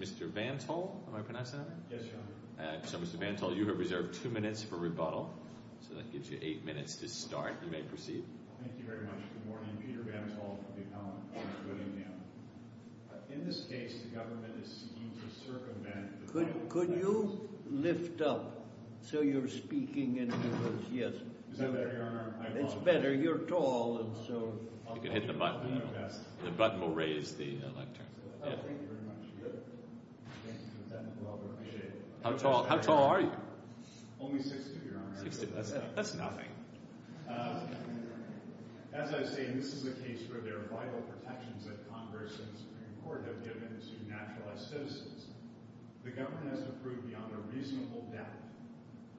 Mr. Vantel, you have reserved 2 minutes for rebuttal, so that gives you 8 minutes to start. You may proceed. Thank you very much. Good morning. Peter Vantel from the Appellate Court of Whittingham. In this case, the government is seeking to circumvent... Could you lift up so you're speaking into those? Yes. Is that better, Your Honor? It's better. You're tall, and so... You can hit the button. The button will raise the lectern. Oh, thank you very much. Thank you, Lieutenant. I appreciate it. How tall are you? Only 6'2", Your Honor. 6'2", that's nothing. As I say, this is a case where there are vital protections that Congress and the Supreme Court have given to naturalized citizens. The government has to prove beyond a reasonable doubt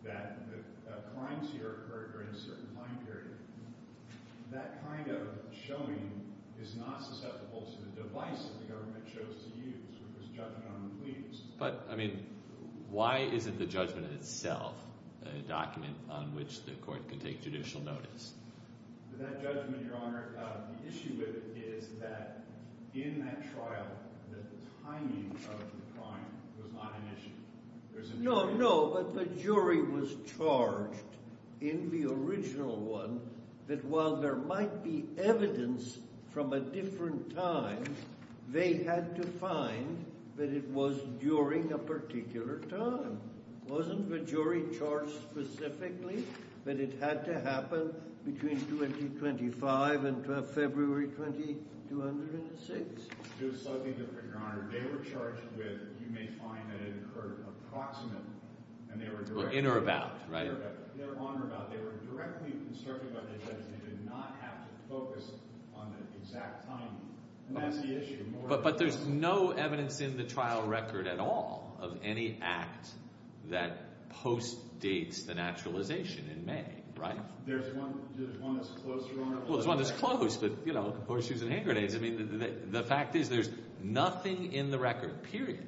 that a crime here occurred during a certain time period. That kind of showing is not susceptible to the device that the government chose to use, which was judgment on the plea. But, I mean, why isn't the judgment itself a document on which the court can take judicial notice? That judgment, Your Honor, the issue with it is that in that trial, the timing of the crime was not an issue. No, no, but the jury was charged in the original one that while there might be evidence from a different time, they had to find that it was during a particular time. Wasn't the jury charged specifically that it had to happen between 2025 and February 2206? It was slightly different, Your Honor. They were charged with, you may find that it occurred approximately. In or about, right? In or about. They were directly constructed by the judge. They did not have to focus on the exact time, and that's the issue. But there's no evidence in the trial record at all of any act that postdates the naturalization in May, right? Well, there's one that's close, but, you know, horseshoes and hand grenades. I mean, the fact is there's nothing in the record, period,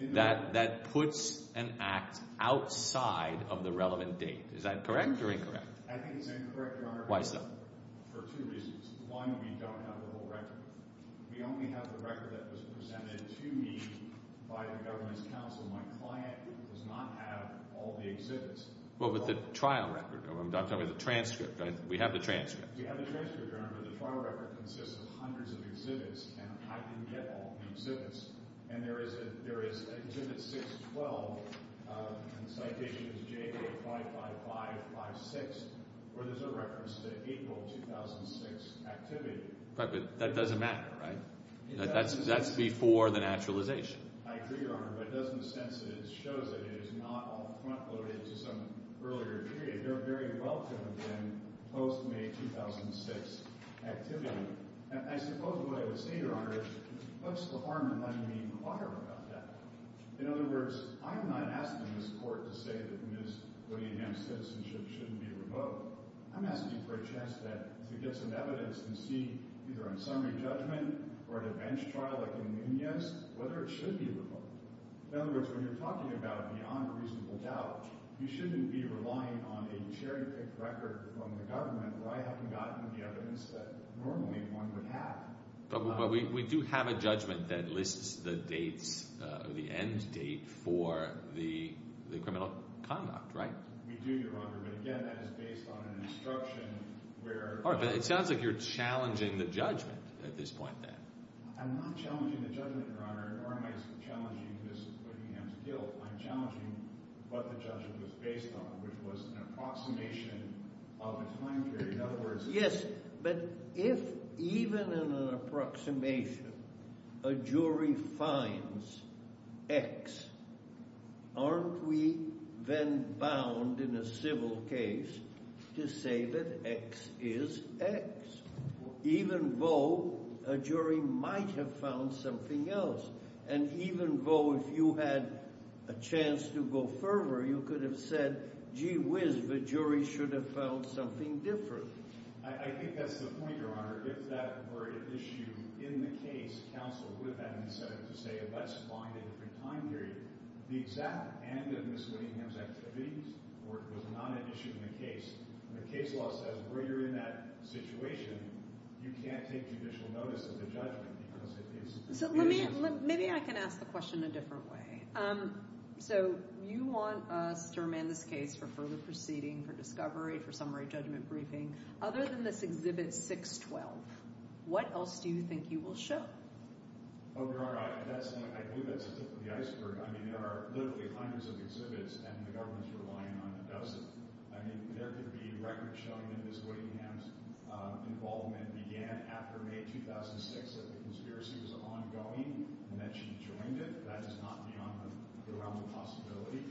that puts an act outside of the relevant date. Is that correct or incorrect? I think it's incorrect, Your Honor. Why so? For two reasons. One, we don't have the whole record. We only have the record that was presented to me by the government's counsel. My client does not have all the exhibits. Well, but the trial record. I'm talking about the transcript. We have the transcript. We have the transcript, Your Honor, but the trial record consists of hundreds of exhibits, and I didn't get all the exhibits. And there is an exhibit 612, and the citation is J855556, where there's a reference to April 2006 activity. Right, but that doesn't matter, right? That's before the naturalization. I agree, Your Honor, but it doesn't sense that it shows that it is not off-front loaded to some earlier period. They're very welcome in post-May 2006 activity. And I suppose what I would say, Your Honor, is what's the harm in letting me inquire about that? In other words, I'm not asking this court to say that Ms. Williams' citizenship shouldn't be revoked. I'm asking for a chance to get some evidence and see, either on summary judgment or at a bench trial like in Nunez, whether it should be revoked. In other words, when you're talking about beyond a reasonable doubt, you shouldn't be relying on a cherry-picked record from the government where I haven't gotten the evidence that normally one would have. But we do have a judgment that lists the dates, the end date for the criminal conduct, right? We do, Your Honor, but again, that is based on an instruction where— All right, but it sounds like you're challenging the judgment at this point, then. I'm not challenging the judgment, Your Honor, nor am I challenging Ms. Whittingham's guilt. I'm challenging what the judgment was based on, which was an approximation of a time period. In other words— Yes, but if even in an approximation a jury finds X, aren't we then bound in a civil case to say that X is X? Even though a jury might have found something else. And even though if you had a chance to go further, you could have said, gee whiz, the jury should have found something different. I think that's the point, Your Honor. If that were an issue in the case, counsel would have had an incentive to say let's find a different time period. The exact end of Ms. Whittingham's activities was not an issue in the case. And the case law says where you're in that situation, you can't take judicial notice of the judgment because it is— So let me—maybe I can ask the question a different way. So you want us to remand this case for further proceeding, for discovery, for summary judgment briefing. Other than this Exhibit 612, what else do you think you will show? Oh, Your Honor, I believe that's the tip of the iceberg. I mean, there are literally hundreds of exhibits, and the government's relying on a dozen. I mean, there could be records showing that Ms. Whittingham's involvement began after May 2006, that the conspiracy was ongoing and that she joined it. That is not beyond the realm of possibility.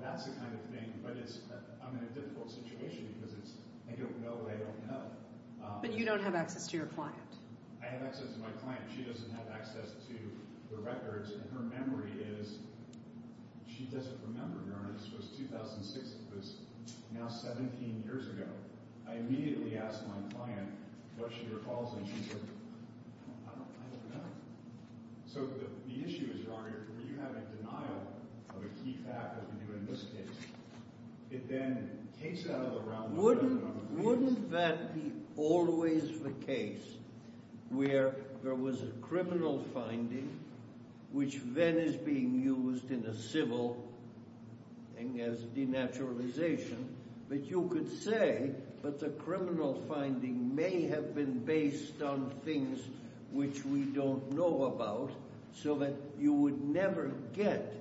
That's the kind of thing. But it's—I'm in a difficult situation because it's—I don't know what I don't know. But you don't have access to your client. I have access to my client. She doesn't have access to the records. And her memory is—she doesn't remember, Your Honor. This was 2006. It was now 17 years ago. I immediately asked my client what she recalls, and she said, I don't know. So the issue is, Your Honor, where you have a denial of a key fact, as we do in this case, it then takes it out of the realm of possibility. Wouldn't that be always the case where there was a criminal finding, which then is being used in a civil thing as denaturalization, that you could say that the criminal finding may have been based on things which we don't know about so that you would never get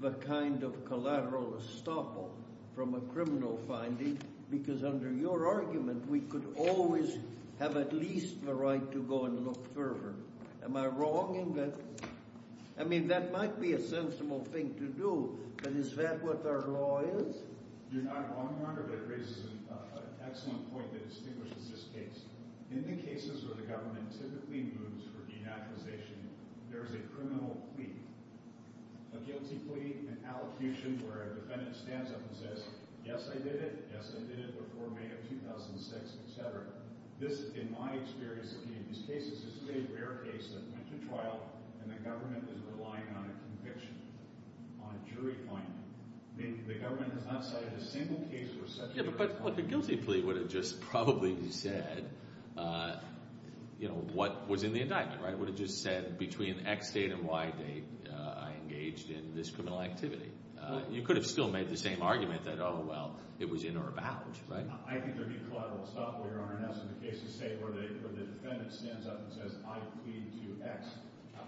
the kind of collateral estoppel from a criminal finding? Because under your argument, we could always have at least the right to go and look further. Am I wrong in that? I mean, that might be a sensible thing to do, but is that what our law is? You're not wrong, Your Honor, but it raises an excellent point that distinguishes this case. In the cases where the government typically moves for denaturalization, there is a criminal plea. A guilty plea, an allocution where a defendant stands up and says, yes, I did it, yes, I did it before May of 2006, et cetera. This, in my experience in these cases, is a very rare case that went to trial and the government is relying on a conviction, on a jury finding. The government has not cited a single case where such a thing has happened. Yeah, but a guilty plea would have just probably said what was in the indictment, right? It would have just said between X date and Y date I engaged in this criminal activity. You could have still made the same argument that, oh, well, it was in or about. I think there would be collateral estoppel, Your Honor, in the cases, say, where the defendant stands up and says, I plead to X.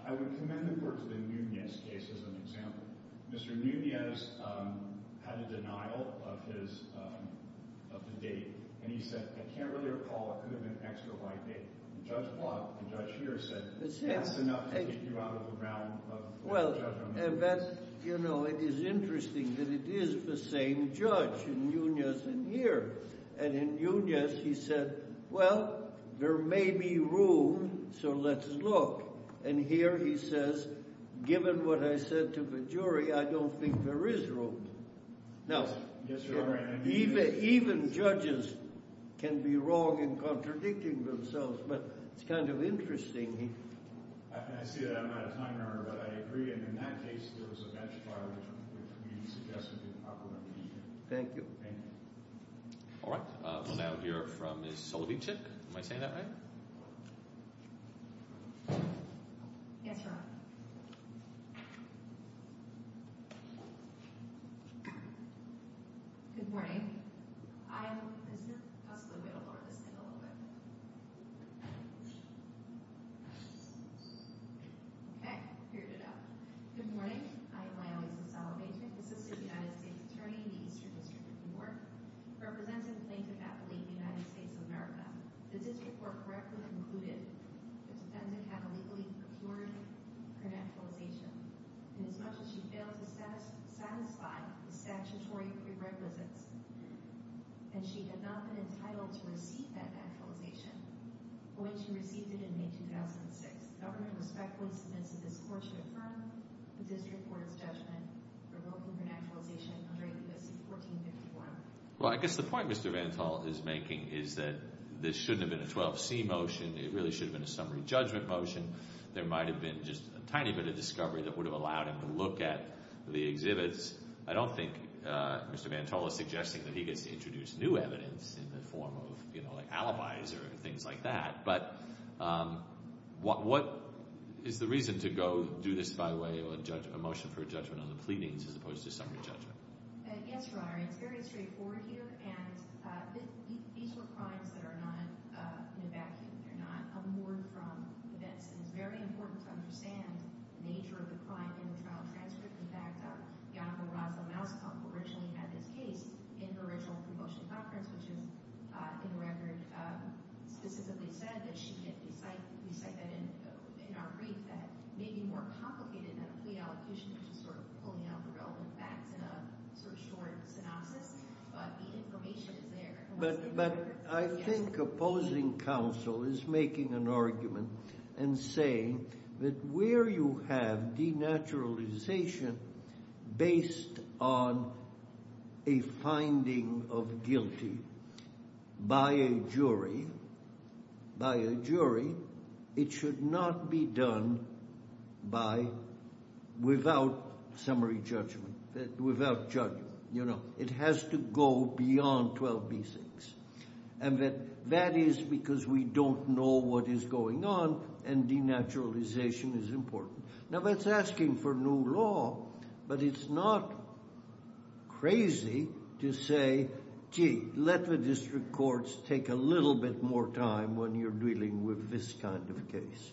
I would commend the court to the Nunez case as an example. Mr. Nunez had a denial of the date, and he said, I can't really recall. It could have been X or Y date. Judge Block, the judge here, said, that's enough to take you out of the round of judgment. Well, and that's, you know, it is interesting that it is the same judge in Nunez and here. And in Nunez, he said, well, there may be room, so let's look. And here he says, given what I said to the jury, I don't think there is room. Now, even judges can be wrong in contradicting themselves, but it's kind of interesting. I see that I'm out of time, Your Honor, but I agree. And in that case, there was a bench file, which we suggest would be appropriate. Thank you. All right. We'll now hear from Ms. Soloveitchik. Am I saying that right? Yes, Your Honor. Good morning. I am Ms. Duskley. We'll lower this thing a little bit. Okay. Good morning. My name is Ms. Soloveitchik. I'm the Assistant United States Attorney in the Eastern District of Newark. I represent a plaintiff appellee in the United States of America. The district court correctly concluded that the defendant had illegally procured her naturalization, and as much as she failed to satisfy the statutory prerequisites, and she had not been entitled to receive that naturalization when she received it in May 2006, the government respectfully submits this court to affirm the district court's judgment revoking her naturalization under ABS 1454. Well, I guess the point Mr. Vantol is making is that this shouldn't have been a 12C motion. It really should have been a summary judgment motion. There might have been just a tiny bit of discovery that would have allowed him to look at the exhibits. I don't think Mr. Vantol is suggesting that he gets to introduce new evidence in the form of, you know, like alibis or things like that. But what is the reason to go do this, by the way, a motion for a judgment on the pleadings as opposed to a summary judgment? Yes, Your Honor, it's very straightforward here. And these were crimes that are not in a vacuum. They're not unmoored from events. And it's very important to understand the nature of the crime in the trial transcript. In fact, the Honorable Rosalyn Mousetrump originally had this case in her original promotion conference, which is, in the record, specifically said that she can't recite that in our brief, that may be more complicated than a plea allocation, which is sort of pulling out the relevant facts in a sort of short synopsis. But the information is there. But I think opposing counsel is making an argument and saying that where you have denaturalization based on a finding of guilty by a jury, by a jury, it should not be done without summary judgment, without judgment. It has to go beyond 12B6. And that is because we don't know what is going on, and denaturalization is important. Now, that's asking for new law, but it's not crazy to say, gee, let the district courts take a little bit more time when you're dealing with this kind of case.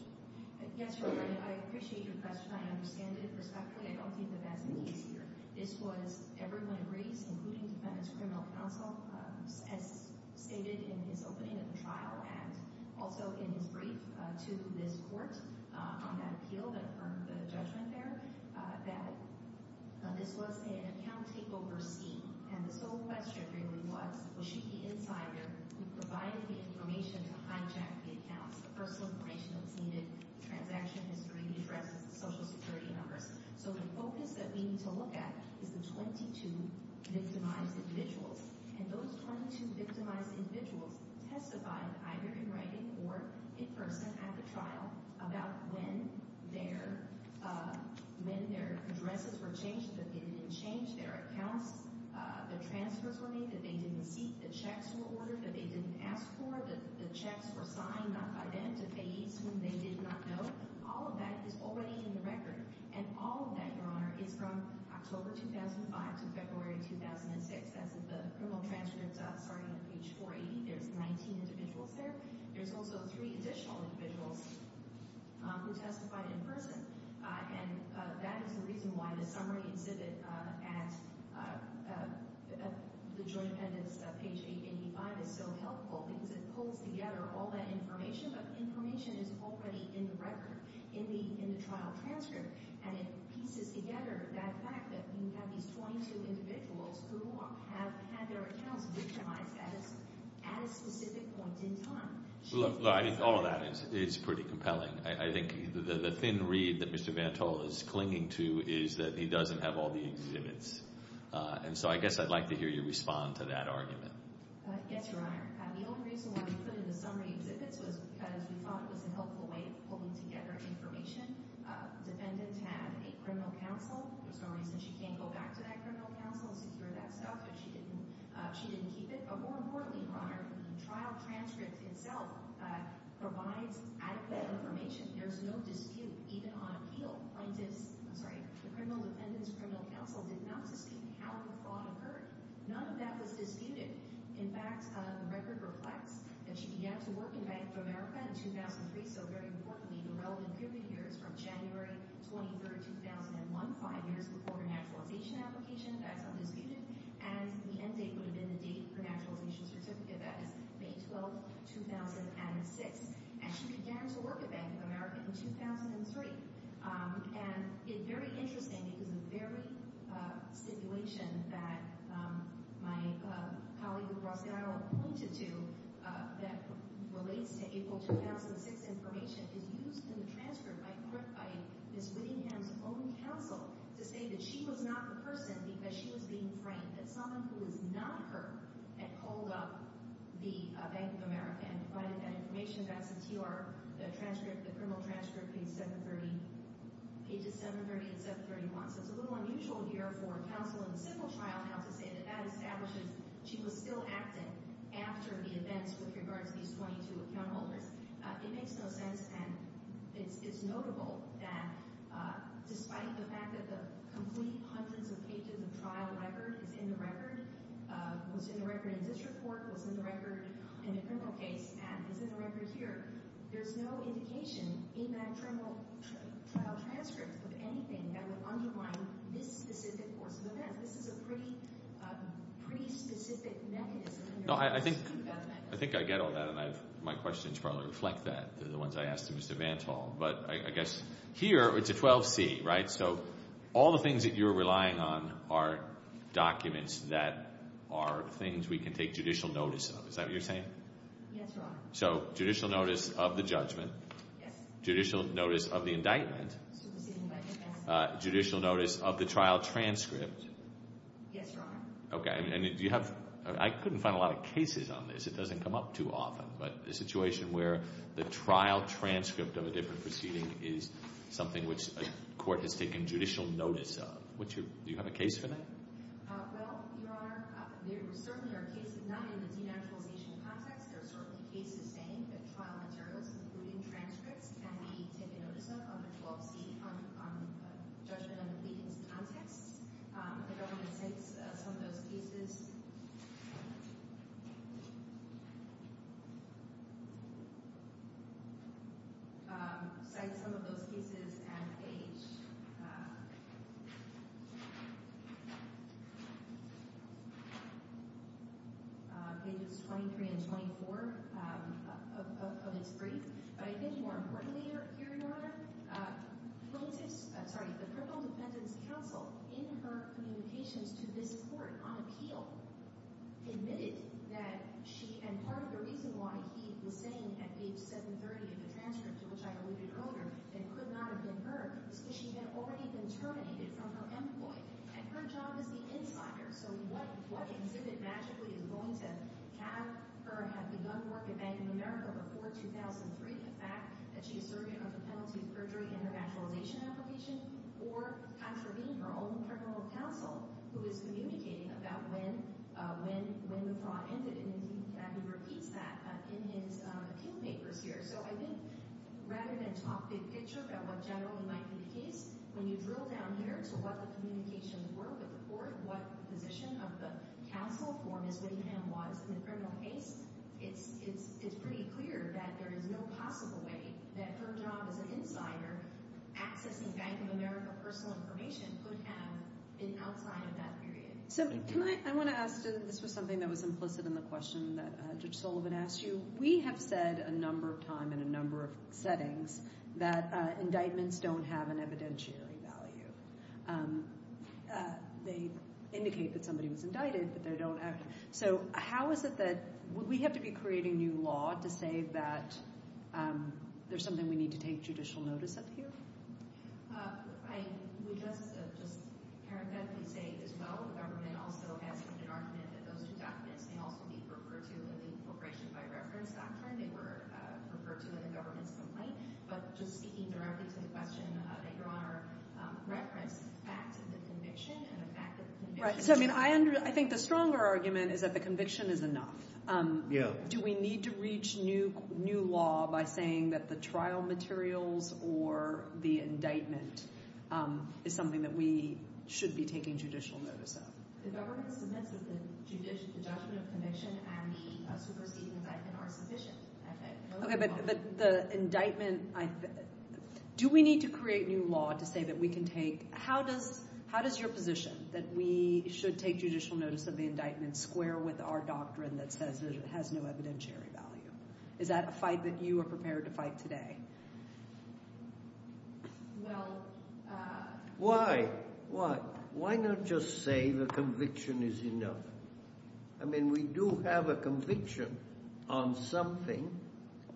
Yes, Your Honor, I appreciate your question. I understand it. But respectfully, I don't think that that's the case here. This was, everyone agrees, including defendant's criminal counsel, as stated in his opening of the trial and also in his brief to this court on that appeal that affirmed the judgment there, that this was an account takeover scene. And the sole question really was, was she the insider who provided the information to hijack the accounts, the personal information that was needed, the transaction history, the addresses, the Social Security numbers? So the focus that we need to look at is the 22 victimized individuals. And those 22 victimized individuals testified either in writing or in person at the trial about when their addresses were changed, that they didn't change their accounts, the transfers were made, that they didn't seek, the checks were ordered, that they didn't ask for, that the checks were signed, not by them, to faiths whom they did not know. All of that is already in the record. And all of that, Your Honor, is from October 2005 to February 2006. That's the criminal transcripts starting at page 480. There's 19 individuals there. There's also three additional individuals who testified in person. And that is the reason why the summary exhibit at the joint appendix, page 885, is so helpful because it pulls together all that information, but the information is already in the record, in the trial transcript, and it pieces together that fact that you have these 22 individuals who have had their accounts victimized at a specific point in time. Look, all of that is pretty compelling. I think the thin reed that Mr. Vantol is clinging to is that he doesn't have all the exhibits. And so I guess I'd like to hear you respond to that argument. Yes, Your Honor. The only reason why we put in the summary exhibits was because we thought it was a helpful way of pulling together information. The defendant had a criminal counsel. There's no reason she can't go back to that criminal counsel and secure that stuff, but she didn't keep it. But more importantly, Your Honor, the trial transcript itself provides adequate information. There's no dispute, even on appeal. The criminal defendant's criminal counsel did not sustain how the fraud occurred. None of that was disputed. In fact, the record reflects that she began to work in Bank of America in 2003, so very importantly, the relevant period here is from January 23, 2001, five years before her naturalization application. That's undisputed. And the end date would have been the date of her naturalization certificate. That is May 12, 2006. And she began to work at Bank of America in 2003. And it's very interesting because the very situation that my colleague, who Ross Garrow, pointed to that relates to April 2006 information is used in the transcript by Ms. Whittingham's own counsel to say that she was not the person because she was being framed, that someone who was not her had called up the Bank of America and provided that information. That's in TR, the criminal transcript, pages 730 and 731. So it's a little unusual here for counsel in the civil trial now to say that that establishes she was still acting after the events with regard to these 22 account holders. It makes no sense, and it's notable that despite the fact that the complete hundreds of pages of trial record is in the record, was in the record in district court, was in the record in the criminal case, and is in the record here, there's no indication in that criminal trial transcript of anything that would underline this specific course of events. This is a pretty specific mechanism. I think I get all that, and my questions probably reflect that, the ones I asked of Mr. Vantall. But I guess here it's a 12C, right? So all the things that you're relying on are documents that are things we can take judicial notice of. Is that what you're saying? Yes, Your Honor. So judicial notice of the judgment? Yes. Judicial notice of the indictment? Yes. Judicial notice of the trial transcript? Yes, Your Honor. Okay. I couldn't find a lot of cases on this. It doesn't come up too often, but a situation where the trial transcript of a different proceeding is something which a court has taken judicial notice of. Do you have a case for that? Well, Your Honor, there certainly are cases not in the denaturalization context. There are certainly cases saying that trial materials, including transcripts, can be taken notice of under 12C on judgment under pleadings context. The government cites some of those cases at pages 23 and 24 of its brief. But I think more importantly here, Your Honor, the criminal defendants counsel in her communications to this court on appeal admitted that she—and part of the reason why he was saying at page 730 of the transcript, which I alluded to earlier, that it could not have been her, is because she had already been terminated from her employ. And her job is the insider, so what exhibit magically is going to have her have begun to work at Bank of America before 2003, the fact that she is serving under penalty of perjury in her denaturalization application, or contravene her own criminal counsel, who is communicating about when the fraud ended. And he repeats that in his appeal papers here. So I think rather than talk big picture about what generally might be the case, when you drill down here to what the communications were with the court, what position of the case, it's pretty clear that there is no possible way that her job as an insider accessing Bank of America personal information could have been outside of that period. So can I—I want to ask—this was something that was implicit in the question that Judge Sullivan asked you. We have said a number of times in a number of settings that indictments don't have an evidentiary value. They indicate that somebody was indicted, but they don't have—so how is it that we have to be creating new law to say that there's something we need to take judicial notice of here? We just parenthetically say, as well, the government also has an argument that those two documents may also be referred to in the incorporation by reference doctrine. They were referred to in the government's complaint. But just speaking directly to the question that Your Honor referenced, the facts of the conviction and the fact that the conviction— I think the stronger argument is that the conviction is enough. Do we need to reach new law by saying that the trial materials or the indictment is something that we should be taking judicial notice of? The government submits that the judgment of conviction and the superseding indictment are sufficient. Okay, but the indictment—do we need to create new law to say that we can take—how does your position, that we should take judicial notice of the indictment square with our doctrine that says it has no evidentiary value? Is that a fight that you are prepared to fight today? Well— Why? Why? Why not just say the conviction is enough? I mean, we do have a conviction on something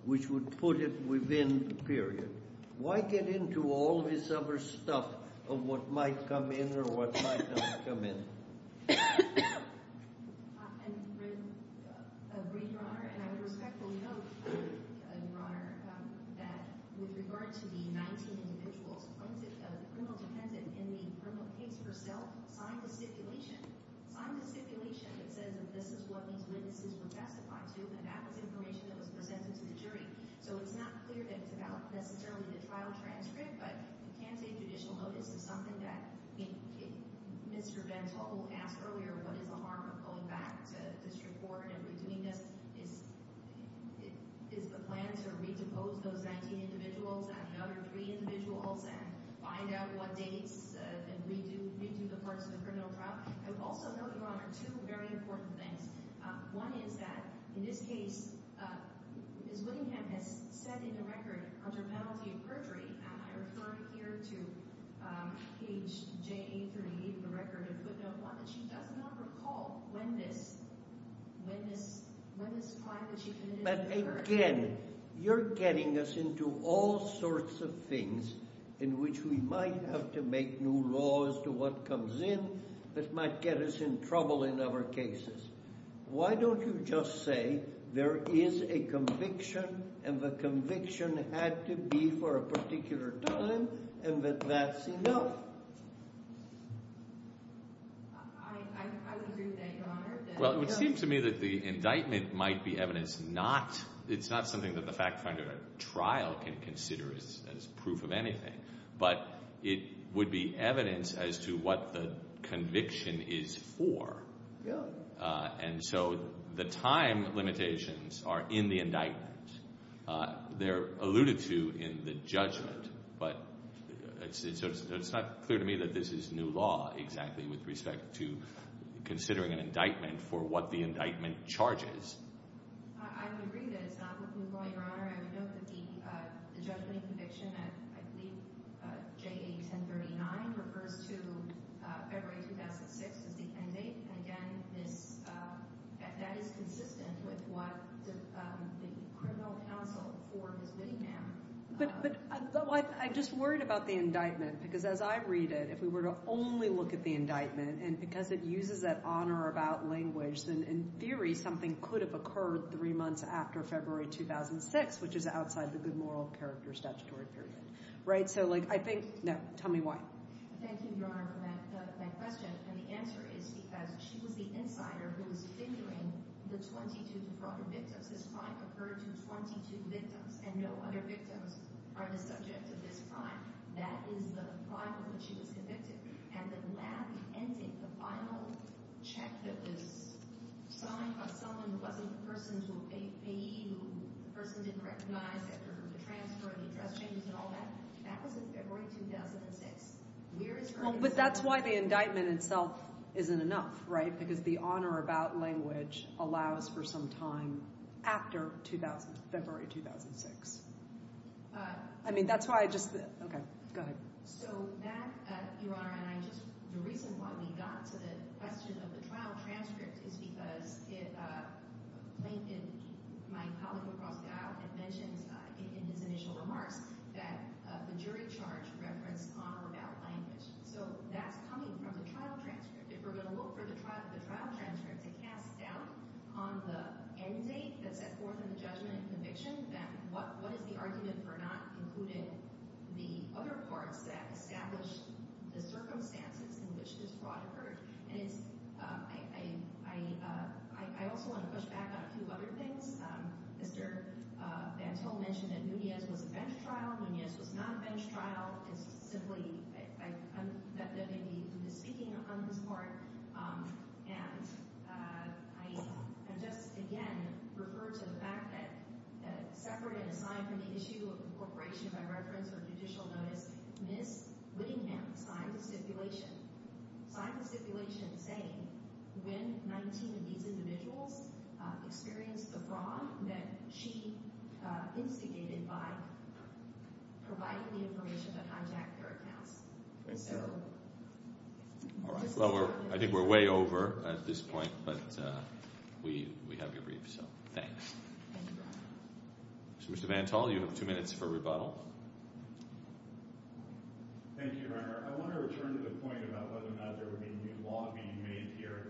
which would put it within the period. Why get into all this other stuff of what might come in or what might not come in? I agree, Your Honor, and I would respectfully note, Your Honor, that with regard to the 19 individuals, the criminal defendant in the criminal case herself signed a stipulation. Signed a stipulation that says that this is what these witnesses were testified to, and so it's not clear that it's about necessarily the trial transcript, but you can take judicial notice of something that—Mr. Gentile asked earlier what is the harm of going back to district court and redoing this. Is the plan to re-depose those 19 individuals and the other 3 individuals and find out what dates and redo the parts of the criminal trial? I would also note, Your Honor, two very important things. One is that, in this case, Ms. Whittingham has set in the record, under penalty of perjury, and I refer here to page JA38 of the record of footnote 1, that she does not recall when this—when this—when this trial that she committed— But again, you're getting us into all sorts of things in which we might have to make new laws to what comes in that might get us in trouble in other cases. Why don't you just say there is a conviction and the conviction had to be for a particular time and that that's enough? I would agree with that, Your Honor. Well, it would seem to me that the indictment might be evidence not—it's not something that the fact finder at trial can consider as proof of anything, but it would be evidence as to what the conviction is for. Really? And so the time limitations are in the indictment. They're alluded to in the judgment, but it's not clear to me that this is new law exactly with respect to considering an indictment for what the indictment charges. I would agree that it's not new law, Your Honor. I would note that the judgment and conviction at, I believe, JA1039 refers to February 2006 as the end date. And again, this—that is consistent with what the criminal counsel for Ms. Whittingham— But I'm just worried about the indictment, because as I read it, if we were to only look at the indictment, and because it uses that honor about language, then in theory something could have occurred three months after February 2006, which is outside the good moral character statutory period. Right? So, like, I think—no. Tell me why. Thank you, Your Honor, for that question. And the answer is because she was the insider who was figuring the 22 defrauded victims. This crime occurred to 22 victims, and no other victims are the subject of this crime. That is the crime on which she was convicted. And the lab ending, the final check that was signed by someone who wasn't the person who paid, who the person didn't recognize after the transfer and the dress changes and all that, that was in February 2006. Where is her— Well, but that's why the indictment itself isn't enough, right? Because the honor about language allows for some time after February 2006. I mean, that's why I just—OK. Go ahead. So, that, Your Honor, and I just—the reason why we got to the question of the trial transcript is because it—my colleague, Oprah Scott, had mentioned in his initial remarks that the jury charge referenced honor about language. So that's coming from the trial transcript. If we're going to look for the trial transcript to cast doubt on the end date that's set forth in the judgment and conviction, then what is the argument for not including the other parts that establish the circumstances in which this fraud occurred? And it's—I also want to push back on a few other things. Mr. Bantul mentioned that Núñez was a bench trial. Núñez was not a bench trial. It's simply—I'm not going to be speaking on this part. And I just, again, refer to the fact that separate and aside from the issue of incorporation by reference or judicial notice, Ms. Whittingham signed a stipulation—signed a stipulation saying when 19 of these individuals experienced a fraud that she instigated by providing the information to contact their accounts. So— All right. Well, we're—I think we're way over at this point, but we have your brief, so thanks. Thank you, Your Honor. Mr. Bantul, you have two minutes for rebuttal. Thank you, Your Honor. I want to return to the point about whether or not there would be new law being made here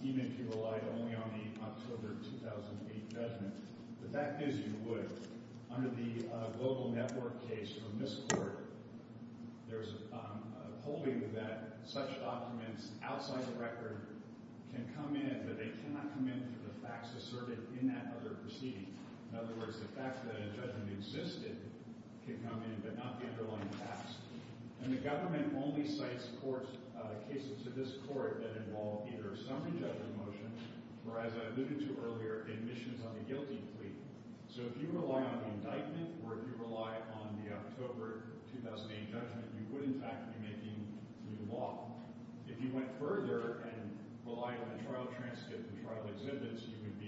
even if you relied only on the October 2008 judgment. The fact is you would. Under the global network case from this court, there's a holding that such documents outside the record can come in, but they cannot come in for the facts asserted in that other proceeding. In other words, the fact that a judgment existed can come in but not the underlying facts. And the government only cites courts—cases to this court that involve either a summary judgment motion or, as I alluded to earlier, admissions on the guilty plea. So if you rely on the indictment or if you rely on the October 2008 judgment, you would in fact be making new law. If you went further and relied on a trial transcript and trial exhibits, you would be—